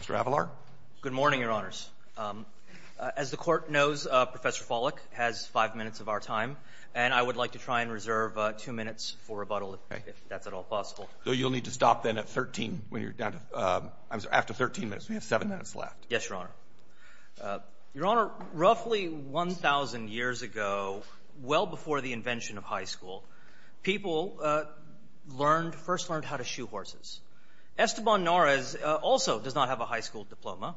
Mr. Avalar Good morning, Your Honors. As the Court knows, Professor Follick has five minutes of our time, and I would like to try and reserve two minutes for rebuttal, if that's at all possible. So you'll need to stop then at 13, when you're down to, I'm sorry, after 13 minutes. We have seven minutes left. Yes, Your Honor. Your Honor, roughly 1,000 years ago, well before the invention of high school, people learned, first learned how to shoe horses. Esteban Norris also does not have a high school diploma.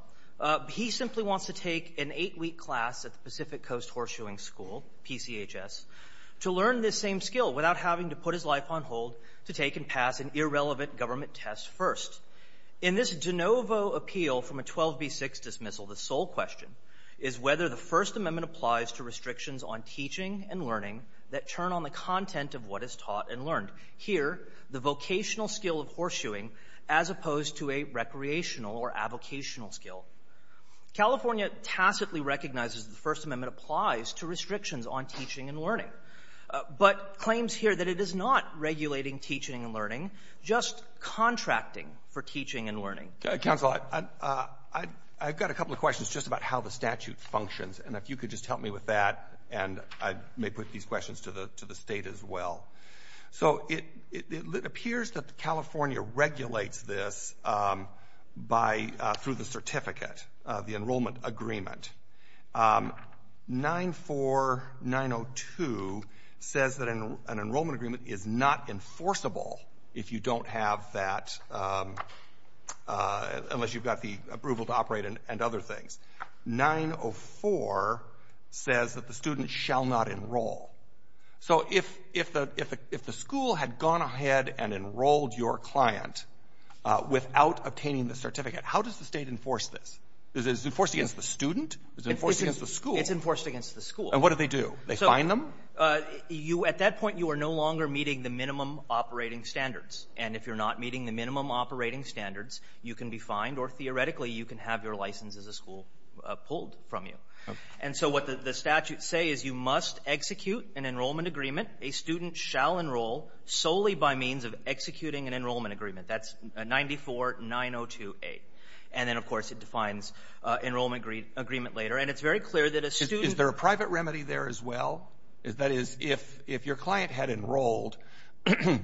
He simply wants to take an eight-week class at the Pacific Coast Horseshoeing School, PCHS, to learn this same skill without having to put his life on hold to take and pass an irrelevant government test first. In this de novo appeal from a 12b6 dismissal, the sole question is whether the First Amendment applies to restrictions on teaching and learning that churn on the content of what is taught and learned. Here, the vocational skill of horseshoeing as opposed to a recreational or avocational skill. California tacitly recognizes the First Amendment applies to restrictions on teaching and learning, but claims here that it is not regulating teaching and learning, just contracting for teaching and learning. Counsel, I've got a couple of questions just about how the statute functions. And if you could just help me with that, and I may put these questions to the state as well. So it appears that California regulates this by, through the certificate, the enrollment agreement. 94902 says that an enrollment agreement is not enforceable if you don't have that, unless you've got the approval to operate and other things. 904 says that the student shall not enroll. So if the school had gone ahead and enrolled your client without obtaining the certificate, how does the state enforce this? Is it enforced against the student? Is it enforced against the school? It's enforced against the school. And what do they do? They fine them? At that point, you are no longer meeting the minimum operating standards. And if you're not meeting the minimum operating standards, you can be fined, or theoretically, you can have your license as a school pulled from you. And so what the statutes say is you must execute an enrollment agreement. A student shall enroll solely by means of executing an enrollment agreement. That's 949028. And then, of course, it defines enrollment agreement later. And it's very clear that a student... Is there a private remedy there as well? That is, if your client had enrolled,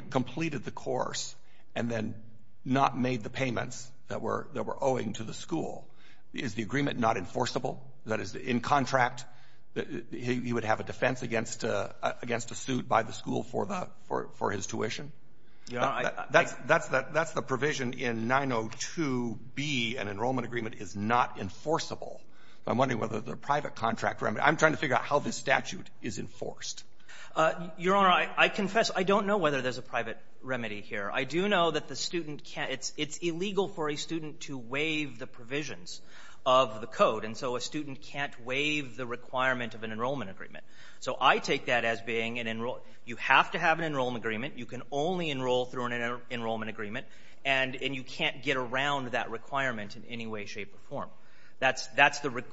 completed the course, and then not made the payments that we're owing to the school, is the agreement not enforceable? That is, in contract, he would have a defense against a suit by the school for his tuition? That's the provision in 902B. An enrollment agreement is not enforceable. I'm wondering whether the private contract remedy... I'm trying to figure out how this statute is enforced. Your Honor, I confess I don't know whether there's a private remedy here. I do know that the student can't... It's illegal for a student to waive the provisions of the code. And so a student can't waive the requirement of an enrollment agreement. So I take that as being an enroll... You have to have an enrollment agreement. You can only enroll through an enrollment agreement. And you can't get around that requirement in any way, shape, or form.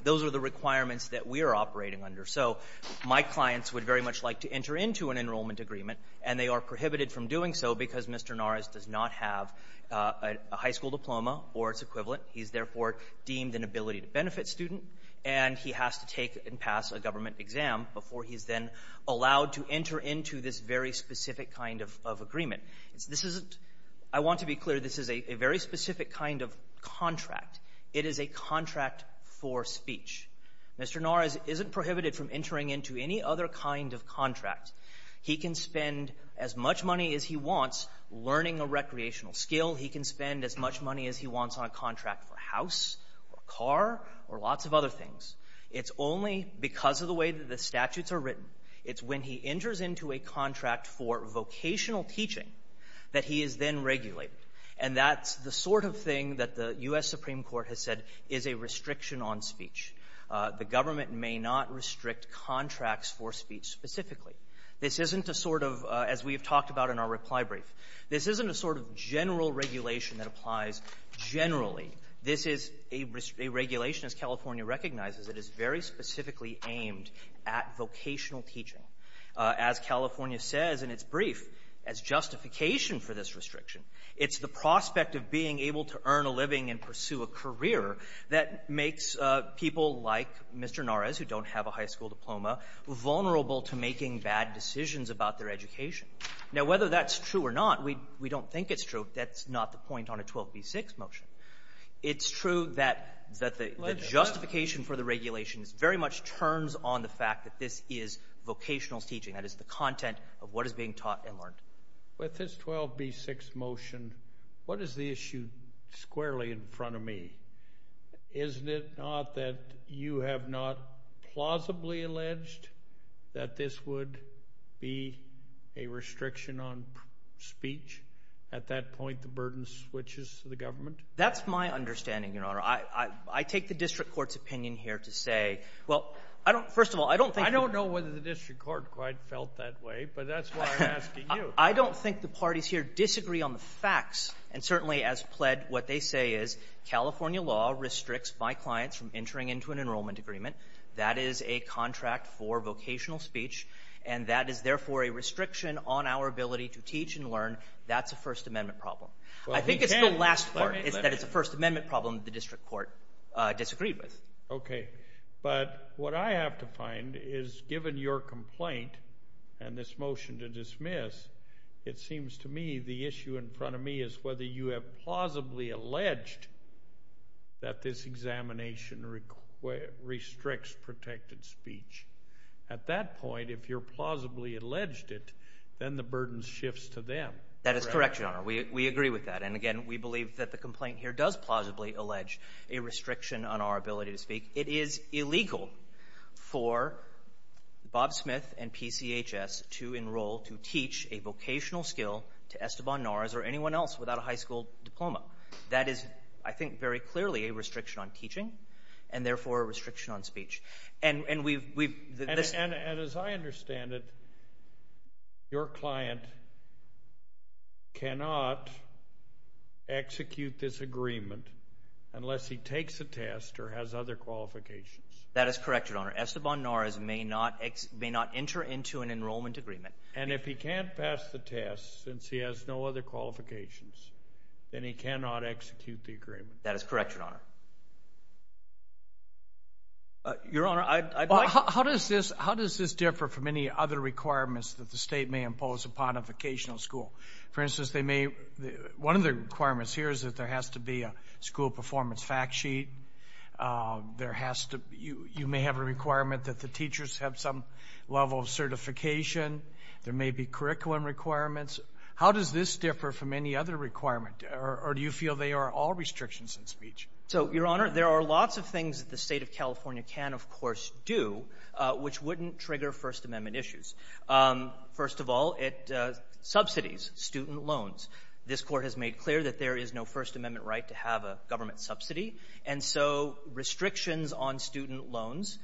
Those are the requirements that we are operating under. So my clients would very much like to enter into an enrollment agreement, and they are prohibited from doing so because Mr. Norris does not have a high school diploma or its equivalent. He's, therefore, deemed an ability-to-benefit student, and he has to take and pass a government exam before he's then allowed to enter into this very specific kind of agreement. This isn't — I want to be clear, this is a very specific kind of contract. It is a contract for speech. Mr. Norris isn't prohibited from entering into any other kind of contract. He can spend as much money as he wants learning a recreational skill. He can spend as much money as he wants on a contract for a house or a car or lots of other things. It's only because of the way that the statutes are written, it's when he enters into a contract for vocational teaching that he is then regulated. And that's the sort of thing that the U.S. Supreme Court has said is a restriction on speech. The government may not restrict contracts for speech specifically. This isn't a sort of — as we have talked about in our reply brief, this isn't a sort of general regulation that applies generally. This is a regulation, as California recognizes, that is very specifically aimed at vocational teaching. As California says in its brief, as justification for this restriction, it's the prospect of being able to earn a living and pursue a career that makes people like Mr. Norris, who don't have a high school diploma, vulnerable to making bad decisions about their education. Now, whether that's true or not, we don't think it's true. That's not the point on a 12b6 motion. It's true that the justification for the regulations very much turns on the fact that this is vocational teaching. That is the content of what is being taught and learned. With this 12b6 motion, what is the issue squarely in front of me? Isn't it not that you have not plausibly alleged that this would be a restriction on speech? At that point, the burden switches to the government? That's my understanding, Your Honor. I take the district court's opinion here to say — well, first of all, I don't think — I don't know whether the district court quite felt that way, but that's why I'm here. I don't think the parties here disagree on the facts. And certainly, as pled, what they say is, California law restricts my clients from entering into an enrollment agreement. That is a contract for vocational speech. And that is, therefore, a restriction on our ability to teach and learn. That's a First Amendment problem. I think it's the last part, is that it's a First Amendment problem that the district court disagreed with. Okay. But what I have to find is, given your complaint and this motion to dismiss, it seems to me the issue in front of me is whether you have plausibly alleged that this examination restricts protected speech. At that point, if you're plausibly alleged it, then the burden shifts to them. That is correct, Your Honor. We agree with that. And again, we believe that the complaint here does plausibly allege a restriction on our ability to speak. It is illegal for Bob Smith and PCHS to enroll, to teach a vocational skill to Esteban Norris or anyone else without a high school diploma. That is, I think, very clearly a restriction on teaching and, therefore, a restriction on speech. And we've — And as I understand it, your client cannot execute this agreement unless he takes a test or has other qualifications. That is correct, Your Honor. Esteban Norris may not enter into an enrollment agreement. And if he can't pass the test, since he has no other qualifications, then he cannot execute the agreement. That is correct, Your Honor. Your Honor, I'd like — How does this differ from any other requirements that the state may impose upon a vocational school? For instance, they may — one of the requirements here is that there has to be a school performance fact sheet. There has to — you may have a requirement that the teachers have some level of certification. There may be curriculum requirements. How does this differ from any other requirement, or do you feel they are all restrictions on speech? So, Your Honor, there are lots of things that the State of California can, of course, do which wouldn't trigger First Amendment issues. First of all, it subsidies student loans. This Court has made clear that there is no First Amendment right to have a government subsidy. And so restrictions on student loans,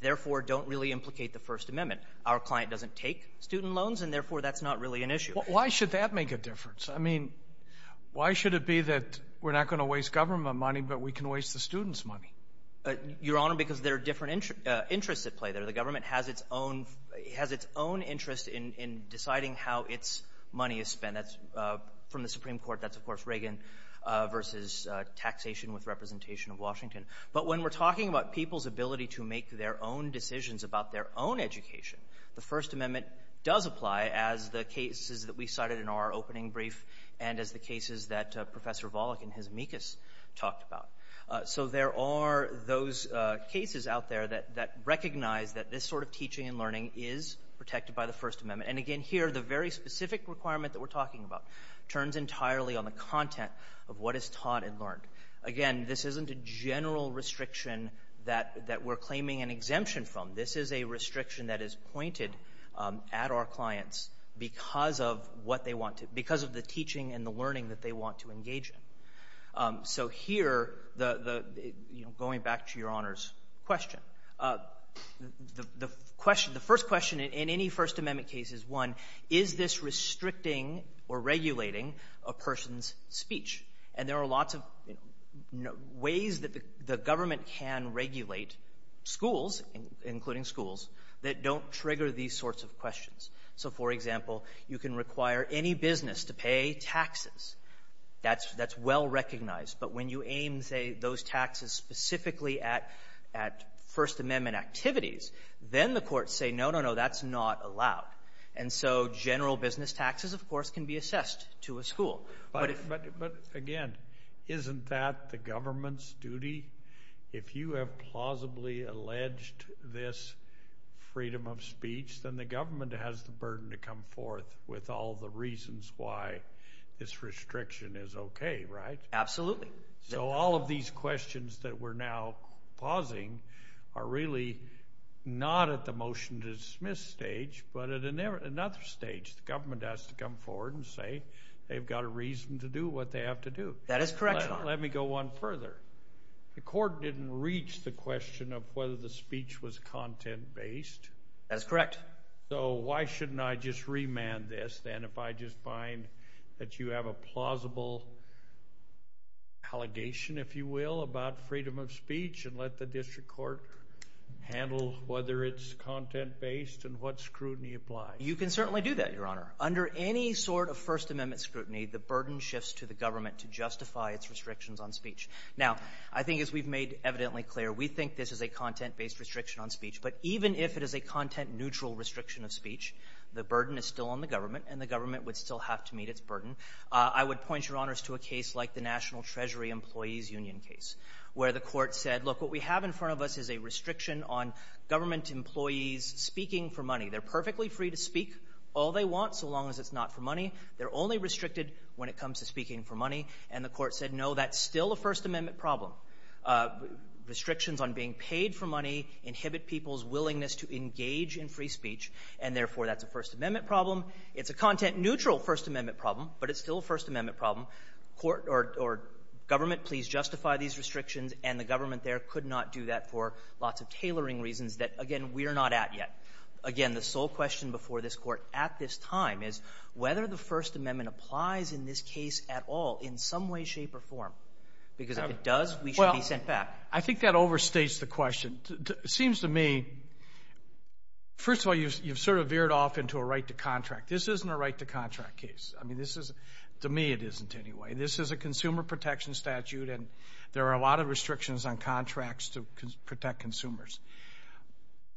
therefore, don't really implicate the First Amendment. Our client doesn't take student loans, and therefore, that's not really an issue. Why should that make a difference? I mean, why should it be that we're not going to waste government money, but we can waste the students' money? Your Honor, because there are different interests at play there. The government has its own — has its own interest in deciding how its money is spent. And that's — from the Supreme Court, that's, of course, Reagan versus taxation with representation of Washington. But when we're talking about people's ability to make their own decisions about their own education, the First Amendment does apply as the cases that we cited in our opening brief and as the cases that Professor Volokh and his amicus talked about. So there are those cases out there that recognize that this sort of teaching and learning is protected by the First Amendment. And again, here, the very specific requirement that we're talking about turns entirely on the content of what is taught and learned. Again, this isn't a general restriction that — that we're claiming an exemption from. This is a restriction that is pointed at our clients because of what they want to — because of the teaching and the learning that they want to engage in. So here, the — you know, going back to Your Honor's question, the question — the first question in any First Amendment case is, one, is this restricting or regulating a person's speech? And there are lots of ways that the government can regulate schools, including schools, that don't trigger these sorts of questions. So for example, you can require any business to pay taxes. That's — that's well recognized. But when you aim, say, those taxes specifically at — at First Amendment activities, then the courts say, no, no, no, that's not allowed. And so general business taxes, of course, can be assessed to a school. But — But again, isn't that the government's duty? If you have plausibly alleged this freedom of speech, then the government has the burden to come forth with all the reasons why this restriction is okay, right? Absolutely. So all of these questions that we're now pausing are really not at the motion-to-dismiss stage, but at another stage. The government has to come forward and say they've got a reason to do what they have to do. That is correct, Your Honor. Let me go one further. The court didn't reach the question of whether the speech was content-based. That's correct. So why shouldn't I just remand this, then, if I just find that you have a plausible allegation, if you will, about freedom of speech and let the district court handle whether it's content-based and what scrutiny applies? You can certainly do that, Your Honor. Under any sort of First Amendment scrutiny, the burden shifts to the government to justify its restrictions on speech. Now, I think as we've made evidently clear, we think this is a content-based restriction on speech. But even if it is a content-neutral restriction of speech, the burden is still on the government, and the government would still have to meet its burden. I would point, Your Honors, to a case like the National Treasury Employees Union case, where the court said, look, what we have in front of us is a restriction on government employees speaking for money. They're perfectly free to speak all they want, so long as it's not for money. They're only restricted when it comes to speaking for money. And the court said, no, that's still a First Amendment problem. Restrictions on being paid for money inhibit people's willingness to engage in free speech, and therefore, that's a First Amendment problem. It's a content-neutral First Amendment problem, but it's still a First Amendment problem. Court or government, please justify these restrictions. And the government there could not do that for lots of tailoring reasons that, again, we are not at yet. Again, the sole question before this Court at this time is whether the First Amendment applies in this case at all in some way, shape, or form. Because if it does, we should be sent back. Well, I think that overstates the question. It seems to me, first of all, you've sort of veered off into a right to contract. This isn't a right to contract case. I mean, this is, to me, it isn't anyway. This is a consumer protection statute, and there are a lot of restrictions on contracts to protect consumers.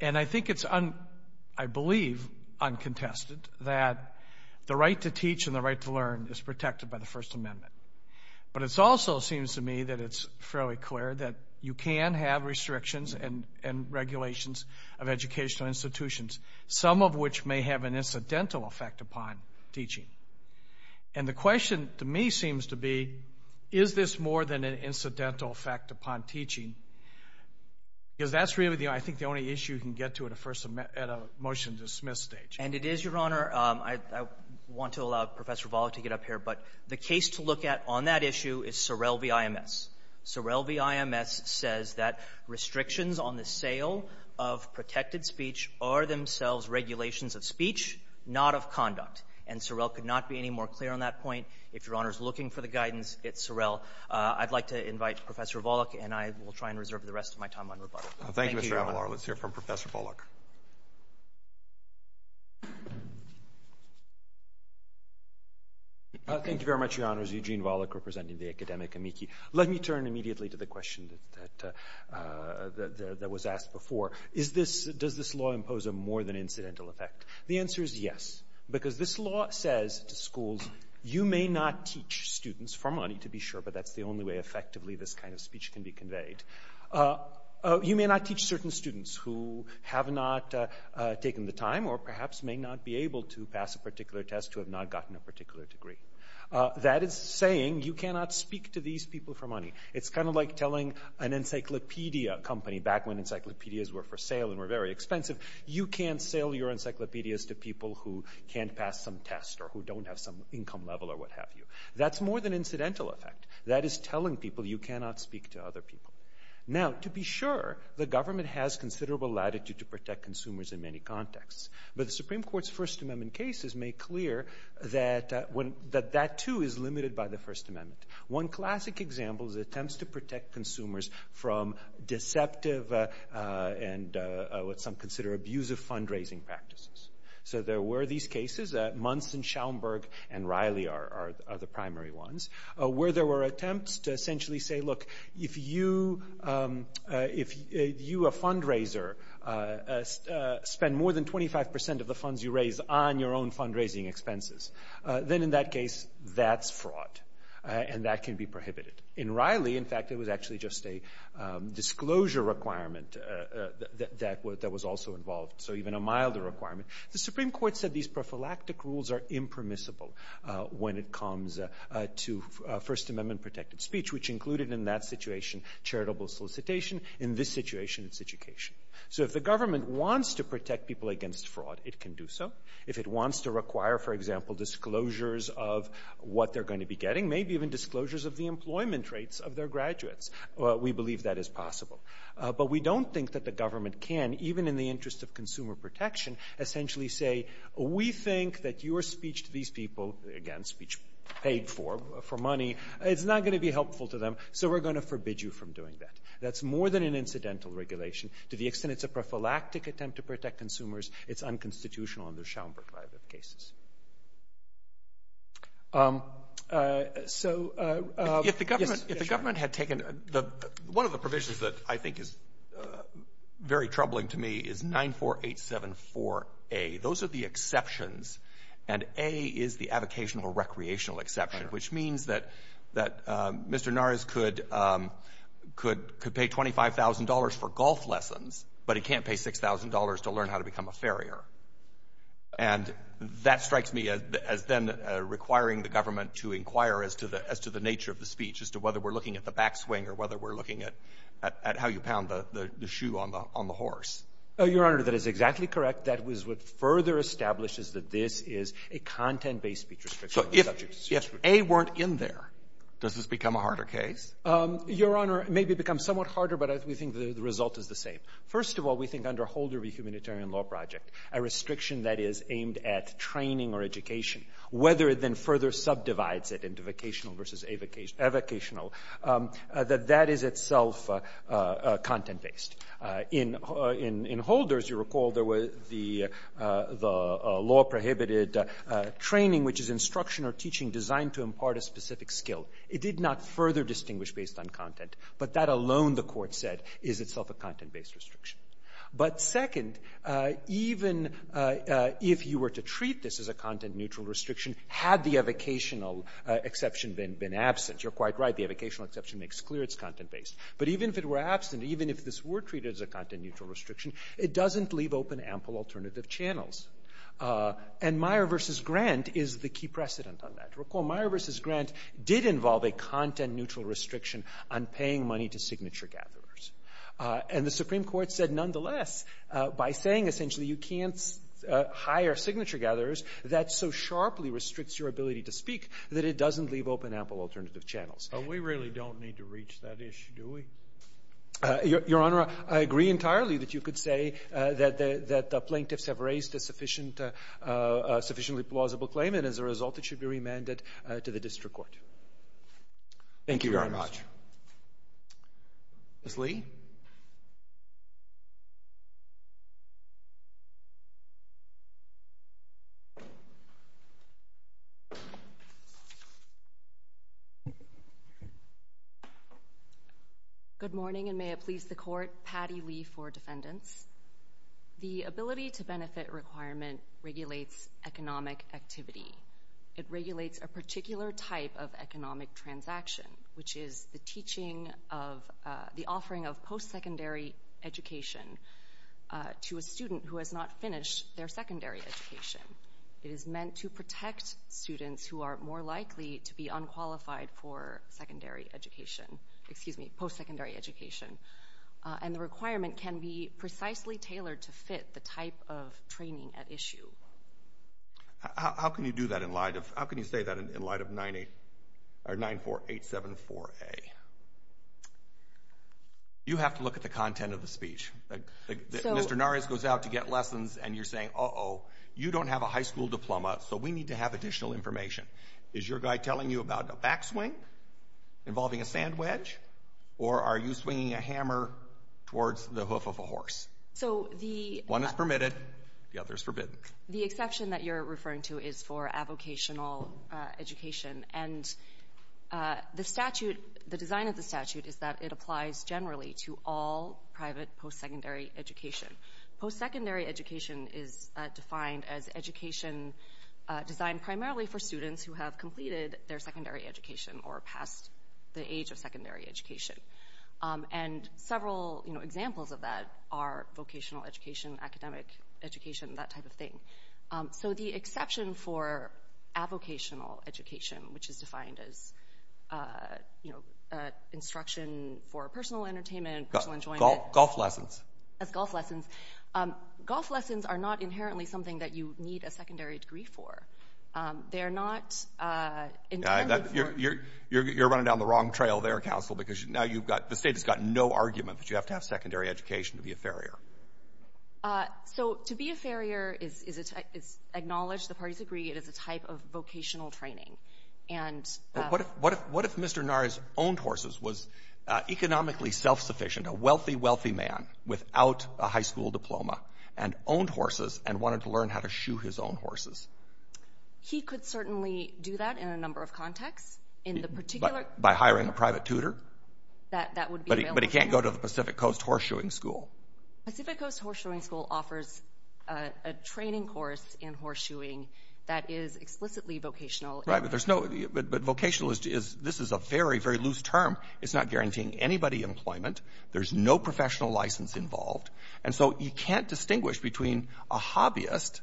And I think it's, I believe, uncontested that the right to teach and the right to learn is protected by the First Amendment. But it also seems to me that it's fairly clear that you can have restrictions and regulations of educational institutions, some of which may have an incidental effect upon teaching. And the question, to me, seems to be, is this more than an incidental effect upon teaching? Because that's really, I think, the only issue you can get to at a motion-to-dismiss stage. And it is, Your Honor. I want to allow Professor Volokh to get up here, but the case to look at on that issue is Sorrell v. IMS. Sorrell v. IMS says that restrictions on the sale of protected speech are themselves regulations of speech, not of conduct. And Sorrell could not be any more clear on that point. If Your Honor is looking for the guidance, it's Sorrell. I'd like to invite Professor Volokh, and I will try and reserve the rest of my time on rebuttal. Thank you, Your Honor. Let's hear from Professor Volokh. Thank you very much, Your Honors. Eugene Volokh, representing the academic amici. Let me turn immediately to the question that was asked before. Is this, does this law impose a more than incidental effect? The answer is yes. Because this law says to schools, you may not teach students for money, to be sure, but that's the only way effectively this kind of speech can be conveyed. You may not teach certain students who have not taken the time or perhaps may not be able to pass a particular test, who have not gotten a particular degree. That is saying you cannot speak to these people for money. It's kind of like telling an encyclopedia company, back when encyclopedias were for sale and were very expensive, you can't sell your encyclopedias to people who can't pass some test or who don't have some income level or what have you. That's more than incidental effect. That is telling people you cannot speak to other people. Now, to be sure, the government has considerable latitude to protect consumers in many contexts. But the Supreme Court's First Amendment cases make clear that when, that that too is limited by the First Amendment. One classic example is attempts to protect consumers from deceptive and what some consider abusive fundraising practices. So there were these cases, Munson, Schaumburg, and Riley are the primary ones, where there were attempts to essentially say, look, if you, if you, a fundraiser, spend more than 25% of the funds you raise on your own fundraising expenses, then in that case, that's fraud and that can be prohibited. In Riley, in fact, it was actually just a disclosure requirement that was also involved. So even a milder requirement. The Supreme Court said these prophylactic rules are impermissible when it comes to First Amendment protected speech, which included in that situation charitable solicitation. In this situation, it's education. So if the government wants to protect people against fraud, it can do so. If it wants to require, for example, disclosures of what they're going to be getting, maybe even disclosures of the employment rates of their graduates, we believe that is possible. But we don't think that the government can, even in the interest of consumer protection, essentially say, we think that your speech to these people, again, speech paid for, for money, it's not going to be helpful to them. So we're going to forbid you from doing that. That's more than an incidental regulation. To the extent it's a prophylactic attempt to protect consumers, it's unconstitutional under Schaumburg Violative Cases. So, yes, go ahead. If the government had taken the, one of the provisions that I think is very troubling to me is 94874A. Those are the exceptions. And A is the avocational recreational exception, which means that Mr. Nars could pay $25,000 for golf lessons, but he can't pay $6,000 to learn how to become a farrier. And that strikes me as then requiring the government to inquire as to the nature of the speech, as to whether we're looking at the backswing or whether we're looking at how you pound the shoe on the horse. Your Honor, that is exactly correct. That was what further establishes that this is a content-based speech restriction. So if A weren't in there, does this become a harder case? Your Honor, maybe it becomes somewhat harder, but we think the result is the same. First of all, we think under Holder v. Humanitarian Law Project, a restriction that is aimed at training or education, whether it then further subdivides it into vocational versus avocational, that that is itself content-based. In Holder, as you recall, there was the law-prohibited training, which is instruction or teaching designed to impart a specific skill. It did not further distinguish based on content. But that alone, the Court said, is itself a content-based restriction. But second, even if you were to treat this as a content-neutral restriction, had the avocational exception been absent, you're quite right, the avocational exception makes clear it's content-based. But even if it were absent, even if this were treated as a content-neutral restriction, it doesn't leave open ample alternative channels. And Meyer v. Grant is the key precedent on that. Recall Meyer v. Grant did involve a content-neutral restriction on paying money to signature gatherers. And the Supreme Court said nonetheless, by saying essentially you can't hire signature gatherers, that so sharply restricts your ability to speak that it doesn't leave open ample alternative channels. But we really don't need to reach that issue, do we? Your Honor, I agree entirely that you could say that the plaintiffs have raised a sufficiently plausible claim, and as a result, it should be remanded to the district court. Thank you, Your Honor. Thank you very much. Ms. Lee? Good morning, and may it please the Court, Patti Lee for defendants. The ability-to-benefit requirement regulates economic activity. It regulates a particular type of economic transaction, which is the teaching of, the offering of post-secondary education to a student who has not finished their secondary education. It is meant to protect students who are more likely to be unqualified for secondary education, excuse me, post-secondary education. And the requirement can be precisely tailored to fit the type of training at issue. How can you do that in light of, how can you say that in light of 94874A? You have to look at the content of the speech. Mr. Nares goes out to get lessons, and you're saying, uh-oh, you don't have a high school diploma, so we need to have additional information. Is your guy telling you about a backswing involving a sand wedge, or are you swinging a hammer towards the hoof of a horse? So the— One is permitted, the other is forbidden. The exception that you're referring to is for avocational education, and the statute, the design of the statute is that it applies generally to all private post-secondary education. Post-secondary education is defined as education designed primarily for students who have completed their secondary education or passed the age of secondary education. And several, you know, examples of that are vocational education, academic education, that type of thing. So the exception for avocational education, which is defined as, you know, instruction for personal entertainment, personal enjoyment— Golf lessons. As golf lessons. Golf lessons are not inherently something that you need a secondary degree for. They're not— You're running down the wrong trail there, counsel, because now you've got, the state has got no argument that you have to have secondary education to be a farrier. So to be a farrier is acknowledged, the parties agree, it is a type of vocational training. And— But what if Mr. Nara's owned horses was economically self-sufficient, a wealthy, wealthy man without a high school diploma, and owned horses and wanted to learn how to shoe his own horses? He could certainly do that in a number of contexts. In the particular— By hiring a private tutor? That would be available. But he can't go to the Pacific Coast Horseshoeing School? Pacific Coast Horseshoeing School offers a training course in horseshoeing that is explicitly vocational— Right, but there's no—but vocational is, this is a very, very loose term. It's not guaranteeing anybody employment. There's no professional license involved. And so you can't distinguish between a hobbyist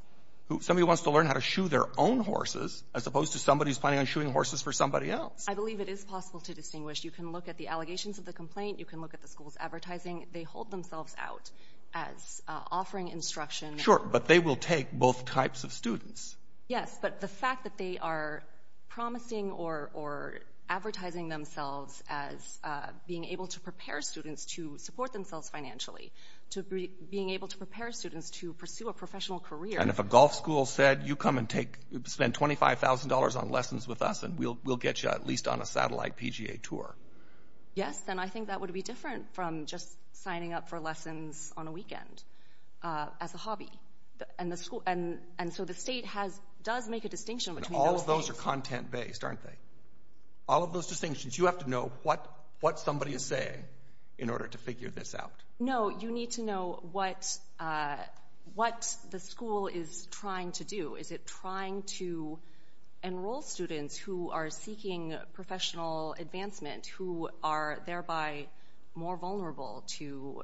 who—somebody who wants to learn how to shoe their own horses, as opposed to somebody who's planning on shoeing horses for somebody else. I believe it is possible to distinguish. You can look at the allegations of the complaint, you can look at the school's advertising. They hold themselves out as offering instruction— Sure, but they will take both types of students. Yes, but the fact that they are promising or advertising themselves as being able to prepare students to support themselves financially, to being able to prepare students to pursue a professional career— And if a golf school said, you come and take—spend $25,000 on lessons with us and we'll get you at least on a satellite PGA tour. Yes, and I think that would be different from just signing up for lessons on a weekend as a hobby. And the school—and so the state has—does make a distinction between those things. All of those are content-based, aren't they? All of those distinctions, you have to know what somebody is saying in order to figure this out. No, you need to know what the school is trying to do. Is it trying to enroll students who are seeking professional advancement, who are thereby more vulnerable to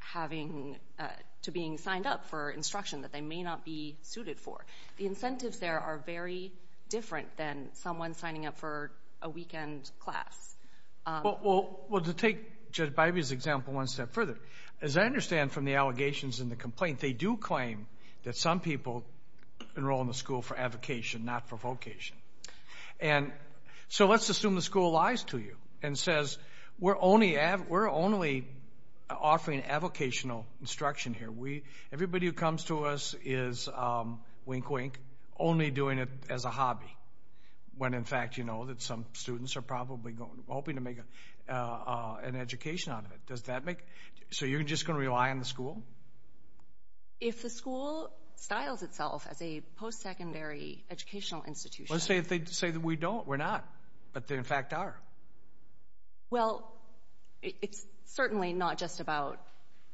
having—to being signed up for instruction that they may not be suited for? The incentives there are very different than someone signing up for a weekend class. Well, to take Judge Bybee's example one step further, as I understand from the allegations and the complaint, they do claim that some people enroll in the school for advocation, not for vocation. And so let's assume the school lies to you and says, we're only offering avocational instruction here. We—everybody who comes to us is, wink, wink, only doing it as a hobby, when in fact you know that some students are probably hoping to make an education out of it. Does that make—so you're just going to rely on the school? If the school styles itself as a post-secondary educational institution— Well, say if they say that we don't, we're not, but they in fact are. Well, it's certainly not just about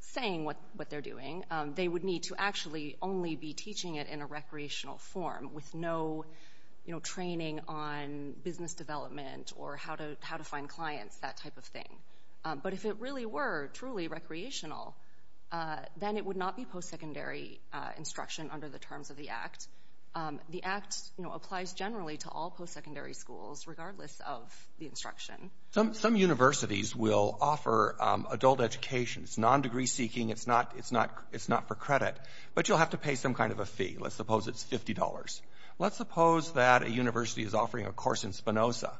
saying what they're doing. They would need to actually only be teaching it in a recreational form with no, you know, training on business development or how to find clients, that type of thing. But if it really were truly recreational, then it would not be post-secondary instruction under the terms of the Act. The Act applies generally to all post-secondary schools, regardless of the instruction. Some universities will offer adult education, it's non-degree seeking, it's not for credit, but you'll have to pay some kind of a fee. Let's suppose it's $50. Let's suppose that a university is offering a course in Spinoza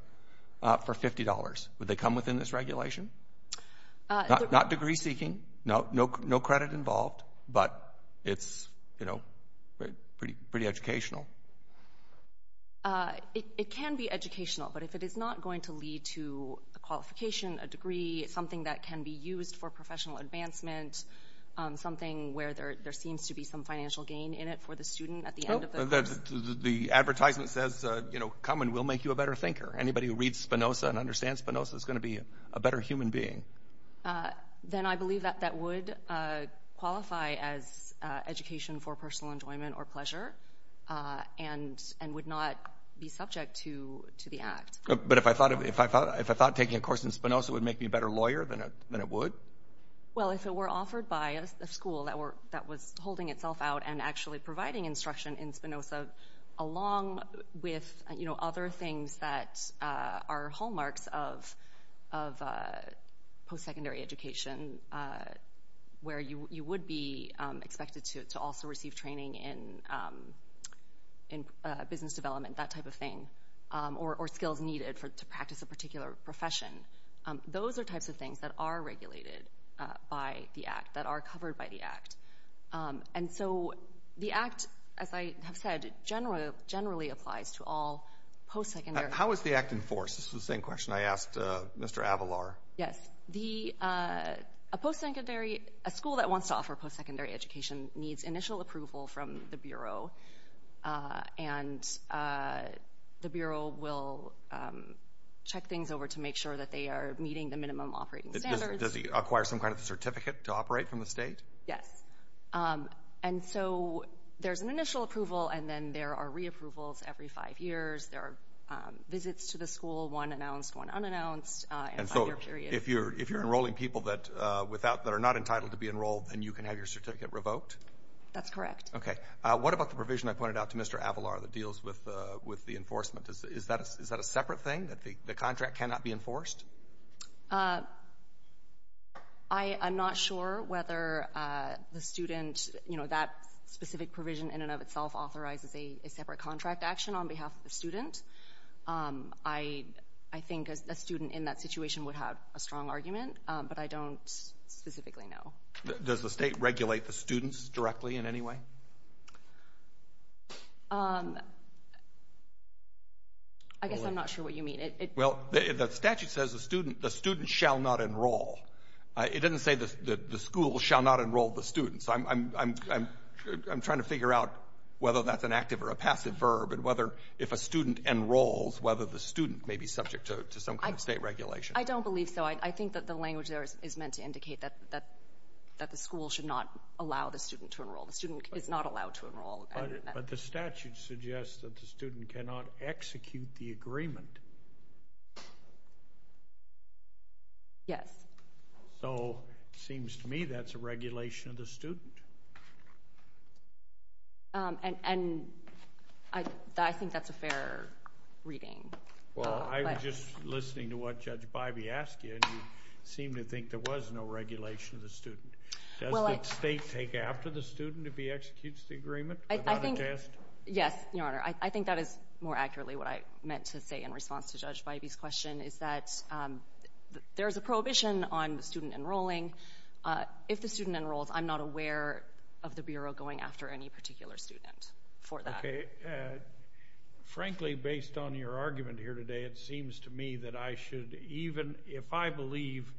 for $50. Would they come within this regulation? Not degree seeking, no credit involved, but it's, you know, pretty educational. It can be educational, but if it is not going to lead to a qualification, a degree, something that can be used for professional advancement, something where there seems to be some financial gain in it for the student at the end of the course— The advertisement says, you know, come and we'll make you a better thinker. Anybody who reads Spinoza and understands Spinoza is going to be a better human being. Then I believe that that would qualify as education for personal enjoyment or pleasure and would not be subject to the Act. But if I thought taking a course in Spinoza would make me a better lawyer, then it would? Well, if it were offered by a school that was holding itself out and actually providing instruction in Spinoza along with, you know, other things that are hallmarks of post-secondary education where you would be expected to also receive training in business development, that type of thing, or skills needed to practice a particular profession, those are types of things that are regulated by the Act, that are covered by the Act. And so the Act, as I have said, generally applies to all post-secondary— How is the Act enforced? This is the same question I asked Mr. Avalar. Yes. A post-secondary—a school that wants to offer post-secondary education needs initial approval from the Bureau, and the Bureau will check things over to make sure that they are meeting the minimum operating standards. Does it acquire some kind of a certificate to operate from the state? Yes. And so there's an initial approval, and then there are re-approvals every five years. There are visits to the school, one announced, one unannounced, and a five-year period. And so if you're enrolling people that are not entitled to be enrolled, then you can have your certificate revoked? That's correct. Okay. What about the provision I pointed out to Mr. Avalar that deals with the enforcement? Is that a separate thing, that the contract cannot be enforced? I'm not sure whether the student—you know, that specific provision in and of itself authorizes a separate contract action on behalf of the student. I think a student in that situation would have a strong argument, but I don't specifically know. Does the state regulate the students directly in any way? I guess I'm not sure what you mean. Well, the statute says the student shall not enroll. It doesn't say the school shall not enroll the students. I'm trying to figure out whether that's an active or a passive verb and whether if a student enrolls, whether the student may be subject to some kind of state regulation. I don't believe so. I think that the language there is meant to indicate that the school should not allow the student to enroll. The student is not allowed to enroll. But the statute suggests that the student cannot execute the agreement. Yes. So, it seems to me that's a regulation of the student. And I think that's a fair reading. Well, I was just listening to what Judge Bybee asked you, and you seemed to think there was no regulation of the student. Does the state take after the student if he executes the agreement without a test? Yes, Your Honor. I think that is more accurately what I meant to say in response to Judge Bybee's question is that there is a prohibition on the student enrolling. If the student enrolls, I'm not aware of the Bureau going after any particular student for that. Okay. Frankly, based on your argument here today, it seems to me that I should, even if I believe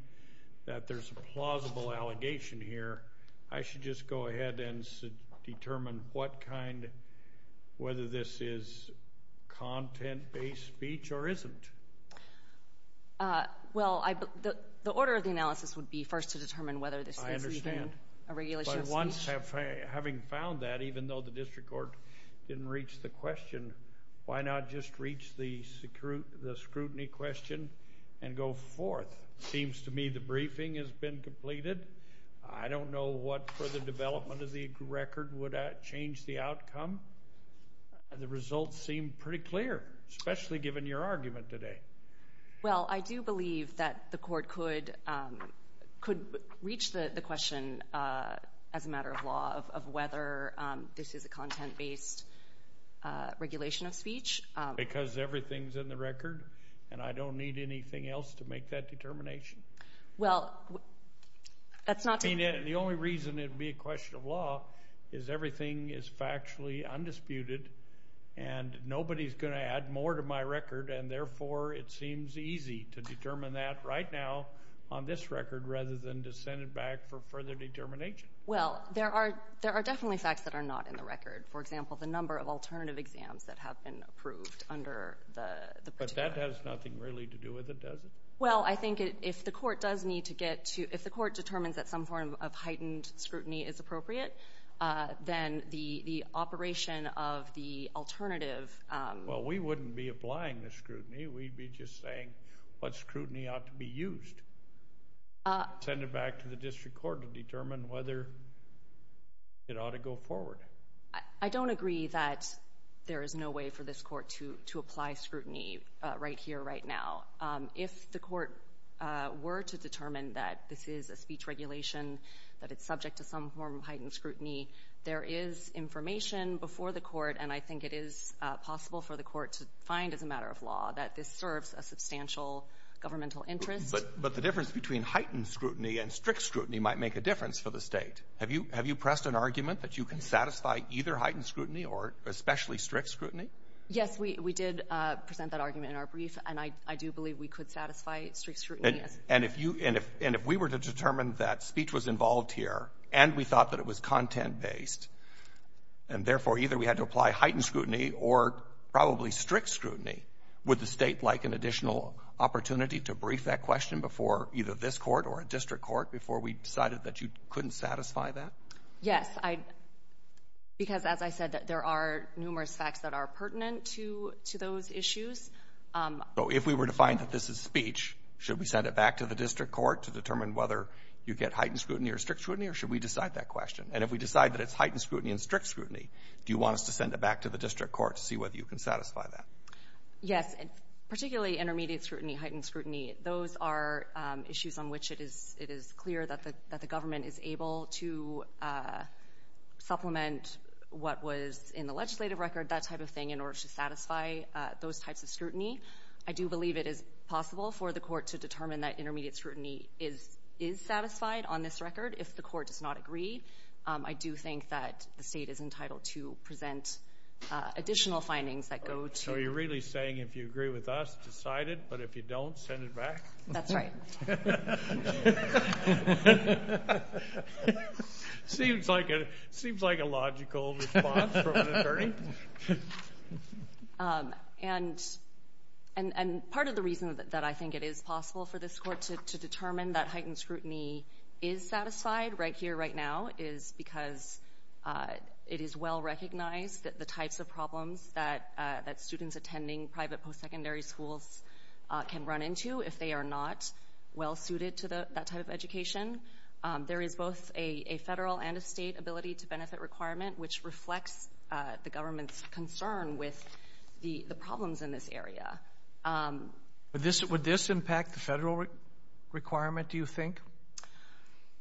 that there's a plausible allegation here, I should just go ahead and determine what kind, whether this is content-based speech or isn't. Well, the order of the analysis would be first to determine whether this is even a regulation of speech. I understand. But once, having found that, even though the district court didn't reach the question, why not just reach the scrutiny question and go forth? It seems to me the briefing has been completed. I don't know what further development of the record would change the outcome. The results seem pretty clear, especially given your argument today. Well, I do believe that the court could reach the question as a matter of law of whether this is a content-based regulation of speech. Because everything's in the record, and I don't need anything else to make that determination? Well, that's not to... The only reason it would be a question of law is everything is factually undisputed, and nobody's going to add more to my record, and therefore, it seems easy to determine that right now on this record rather than to send it back for further determination. Well, there are definitely facts that are not in the record. For example, the number of alternative exams that have been approved under the particular... But that has nothing really to do with it, does it? Well, I think if the court determines that some form of heightened scrutiny is appropriate, then the operation of the alternative... Well, we wouldn't be applying the scrutiny. We'd be just saying what scrutiny ought to be used. Send it back to the district court to determine whether it ought to go forward. I don't agree that there is no way for this court to apply scrutiny right here, right now. If the court were to determine that this is a speech regulation, that it's subject to some form of heightened scrutiny, there is information before the court, and I think it is possible for the court to find as a matter of law that this serves a substantial governmental interest. But the difference between heightened scrutiny and strict scrutiny might make a difference for the state. Have you pressed an argument that you can satisfy either heightened scrutiny or especially strict scrutiny? Yes, we did present that argument in our brief, and I do believe we could satisfy strict scrutiny. And if we were to determine that speech was involved here and we thought that it was content-based and therefore either we had to apply heightened scrutiny or probably strict scrutiny, would the state like an additional opportunity to brief that question before either this court or a district court before we decided that you couldn't satisfy that? Yes, because as I said, there are numerous facts that are pertinent to those issues. So if we were to find that this is speech, should we send it back to the district court to determine whether you get heightened scrutiny or strict scrutiny, or should we decide that question? And if we decide that it's heightened scrutiny and strict scrutiny, do you want us to send it back to the district court to see whether you can satisfy that? Yes, particularly intermediate scrutiny, heightened scrutiny. Those are issues on which it is clear that the government is able to supplement what was in the legislative record, that type of thing, in order to satisfy those types of scrutiny. I do believe it is possible for the court to determine that intermediate scrutiny is satisfied on this record. If the court does not agree, I do think that the state is entitled to present additional findings that go to So you're really saying if you agree with us, decide it, but if you don't, send it back? That's right. And part of the reason that I think it is possible for this court to determine that heightened scrutiny is satisfied right here, right now, is because it is well recognized that the types of problems that students attending private postsecondary schools can run into if they are not well suited to that type of education. There is both a Federal and a State ability-to-benefit requirement, which reflects the government's concern with the problems in this area. Would this impact the Federal requirement, do you think?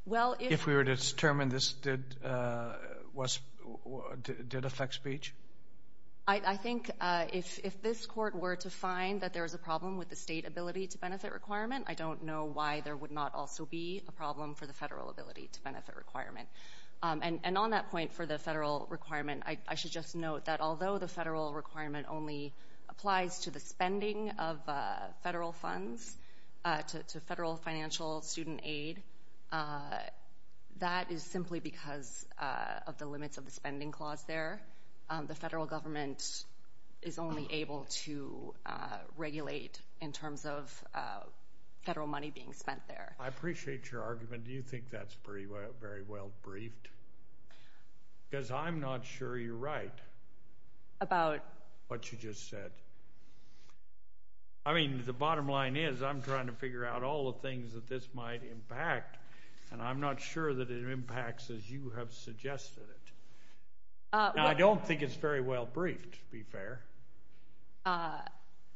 If we were to determine this did affect speech? I think if this court were to find that there is a problem with the State ability-to-benefit requirement, I don't know why there would not also be a problem for the Federal ability-to-benefit requirement. And on that point for the Federal requirement, I should just note that although the Federal requirement only applies to the spending of Federal funds, to Federal financial student aid, that is simply because of the limits of the spending clause there. The Federal government is only able to regulate in terms of Federal money being spent there. I appreciate your argument. Do you think that's very well briefed? Because I'm not sure you're right about what you just said. I mean, the bottom line is I'm trying to figure out all the things that this might impact, and I'm not sure that it impacts as you have suggested it. I don't think it's very well briefed, to be fair.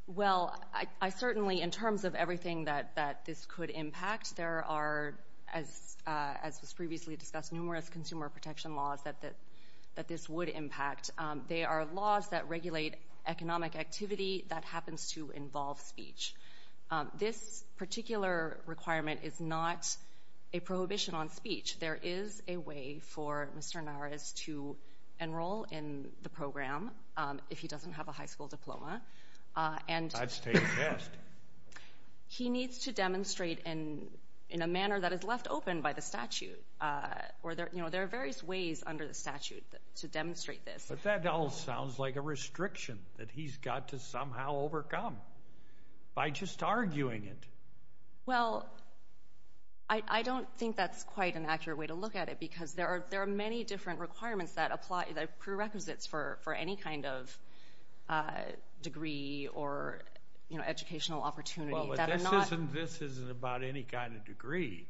Well, I certainly, in terms of everything that this could impact, there are, as was previously discussed, numerous consumer protection laws that this would impact. They are laws that regulate economic activity that happens to involve speech. This particular requirement is not a prohibition on speech. There is a way for Mr. Naras to enroll in the program if he doesn't have a high school diploma. That's taken test. He needs to demonstrate in a manner that is left open by the statute. There are various ways under the statute to demonstrate this. But that all sounds like a restriction that he's got to somehow overcome by just arguing it. Well, I don't think that's quite an accurate way to look at it because there are many different requirements that apply, the prerequisites for any kind of degree or educational opportunity. But this isn't about any kind of degree.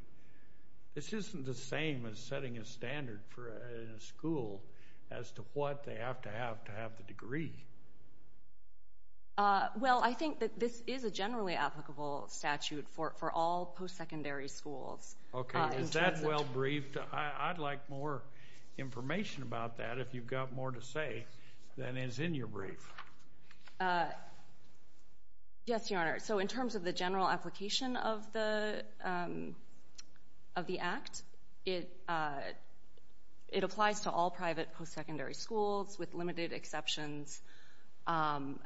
This isn't the same as setting a standard in a school as to what they have to have to have the degree. Well, I think that this is a generally applicable statute for all post-secondary schools. Okay. Is that well briefed? I'd like more information about that if you've got more to say than is in your brief. Yes, Your Honor. So in terms of the general application of the Act, it applies to all private post-secondary schools with limited exceptions. And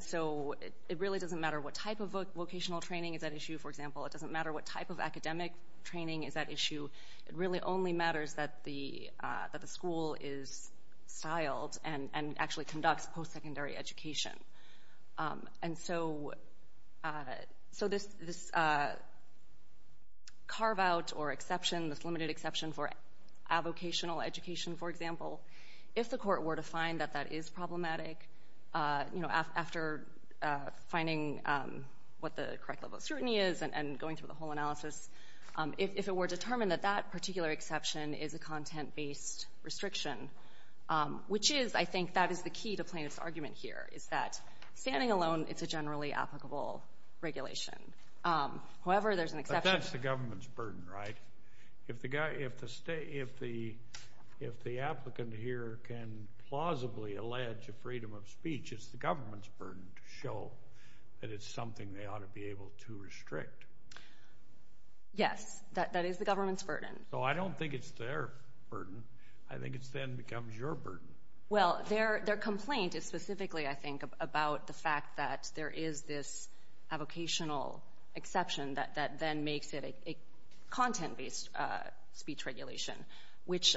so it really doesn't matter what type of vocational training is at issue. For example, it doesn't matter what type of academic training is at issue. It really only matters that the school is styled and actually conducts post-secondary education. And so this carve-out or exception, this limited exception for avocational education, for example, if the court were to find that that is problematic, you know, after finding what the correct level of scrutiny is and going through the whole analysis, if it were determined that that particular exception is a content-based restriction, which is, I think, that is the key to Plaintiff's argument here, is that standing alone, it's a generally applicable regulation. However, there's an exception. But that's the government's burden, right? If the applicant here can plausibly allege a freedom of speech, it's the government's burden to show that it's something they ought to be able to restrict. Yes, that is the government's burden. So I don't think it's their burden. I think it then becomes your burden. Well, their complaint is specifically, I think, about the fact that there is this avocational exception that then makes it a content-based speech regulation, which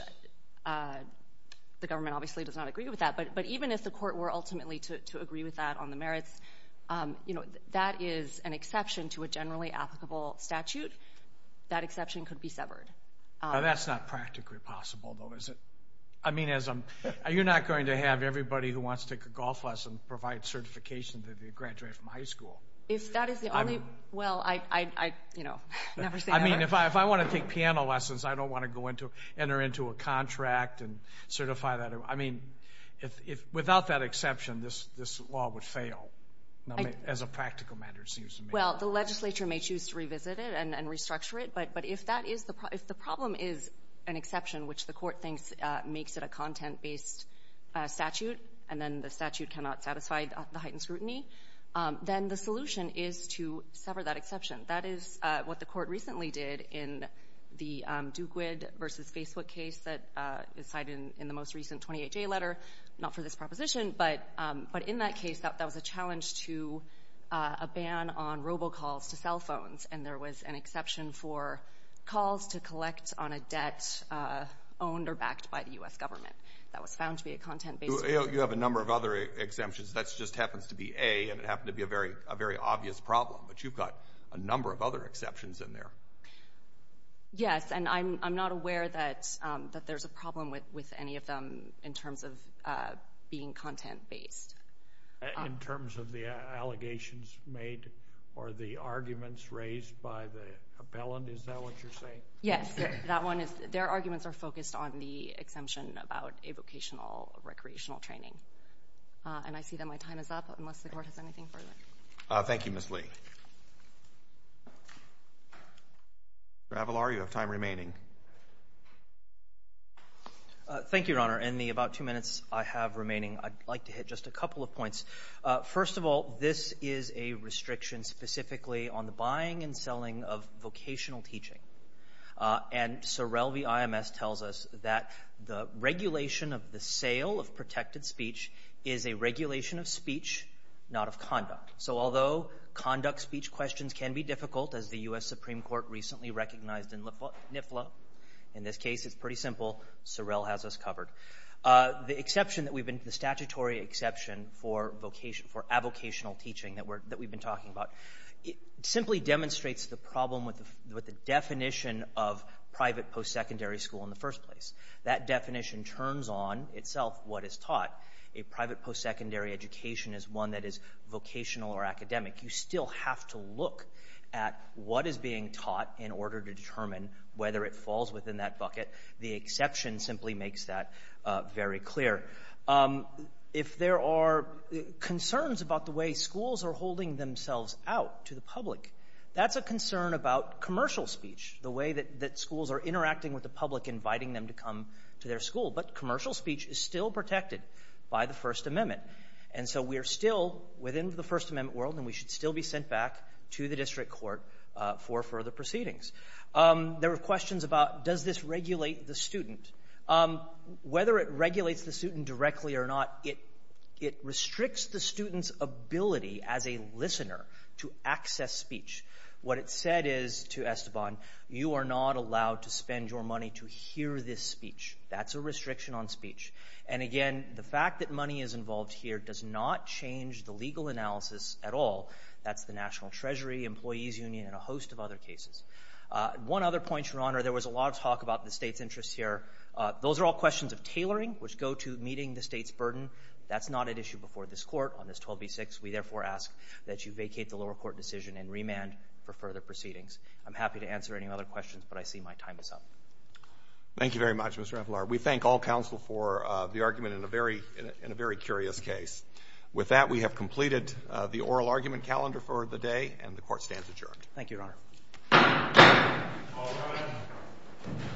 the government obviously does not agree with that. But even if the court were ultimately to agree with that on the merits, that is an exception to a generally applicable statute. That exception could be severed. Now, that's not practically possible, though, is it? I mean, you're not going to have everybody who wants to take a golf lesson provide certification that they graduated from high school. If that is the only, well, I, you know, never say never. I mean, if I want to take piano lessons, I don't want to enter into a contract and certify that. I mean, without that exception, this law would fail. As a practical matter, it seems to me. Well, the legislature may choose to revisit it and restructure it. But if the problem is an exception, which the court thinks makes it a content-based statute, and then the statute cannot satisfy the heightened scrutiny, then the solution is to sever that exception. That is what the court recently did in the Dukewid v. Facebook case that is cited in the most recent 28-J letter. Not for this proposition, but in that case, that was a challenge to a ban on robocalls to cell phones. And there was an exception for calls to collect on a debt owned or backed by the U.S. government. That was found to be a content-based provision. You have a number of other exemptions. That just happens to be A, and it happened to be a very obvious problem. But you've got a number of other exceptions in there. Yes, and I'm not aware that there's a problem with any of them in terms of being content-based. In terms of the allegations made or the arguments raised by the appellant? Is that what you're saying? Yes. Their arguments are focused on the exemption about a vocational recreational training. And I see that my time is up, unless the court has anything further. Thank you, Ms. Lee. Mr. Avalar, you have time remaining. Thank you, Your Honor. In the about two minutes I have remaining, I'd like to hit just a couple of points. First of all, this is a restriction specifically on the buying and selling of vocational teaching. And Sorel v. IMS tells us that the regulation of the sale of protected speech is a regulation of speech, not of conduct. So although conduct speech questions can be difficult, as the U.S. Supreme Court recently recognized in NIFLA, in this case it's pretty simple. Sorel has us covered. The statutory exception for avocational teaching that we've been talking about simply demonstrates the problem with the definition of private post-secondary school in the first place. That definition turns on itself what is taught. A private post-secondary education is one that is vocational or academic. You still have to look at what is being taught in order to determine whether it falls within that bucket. The exception simply makes that very clear. If there are concerns about the way schools are holding themselves out to the public, that's a concern about commercial speech, the way that schools are interacting with the public, inviting them to come to their school. But commercial speech is still protected by the First Amendment. And so we are still within the First Amendment world, and we should still be sent back to the district court for further proceedings. There were questions about does this regulate the student. Whether it regulates the student directly or not, it restricts the student's ability as a listener to access speech. What it said is to Esteban, you are not allowed to spend your money to hear this speech. That's a restriction on speech. And, again, the fact that money is involved here does not change the legal analysis at all. That's the National Treasury, Employees Union, and a host of other cases. One other point, Your Honor, there was a lot of talk about the State's interests here. Those are all questions of tailoring, which go to meeting the State's burden. That's not at issue before this Court on this 12b-6. We, therefore, ask that you vacate the lower court decision and remand for further proceedings. I'm happy to answer any other questions, but I see my time is up. Thank you very much, Mr. Avelar. We thank all counsel for the argument in a very curious case. With that, we have completed the oral argument calendar for the day, and the Court stands adjourned. Thank you, Your Honor. All rise.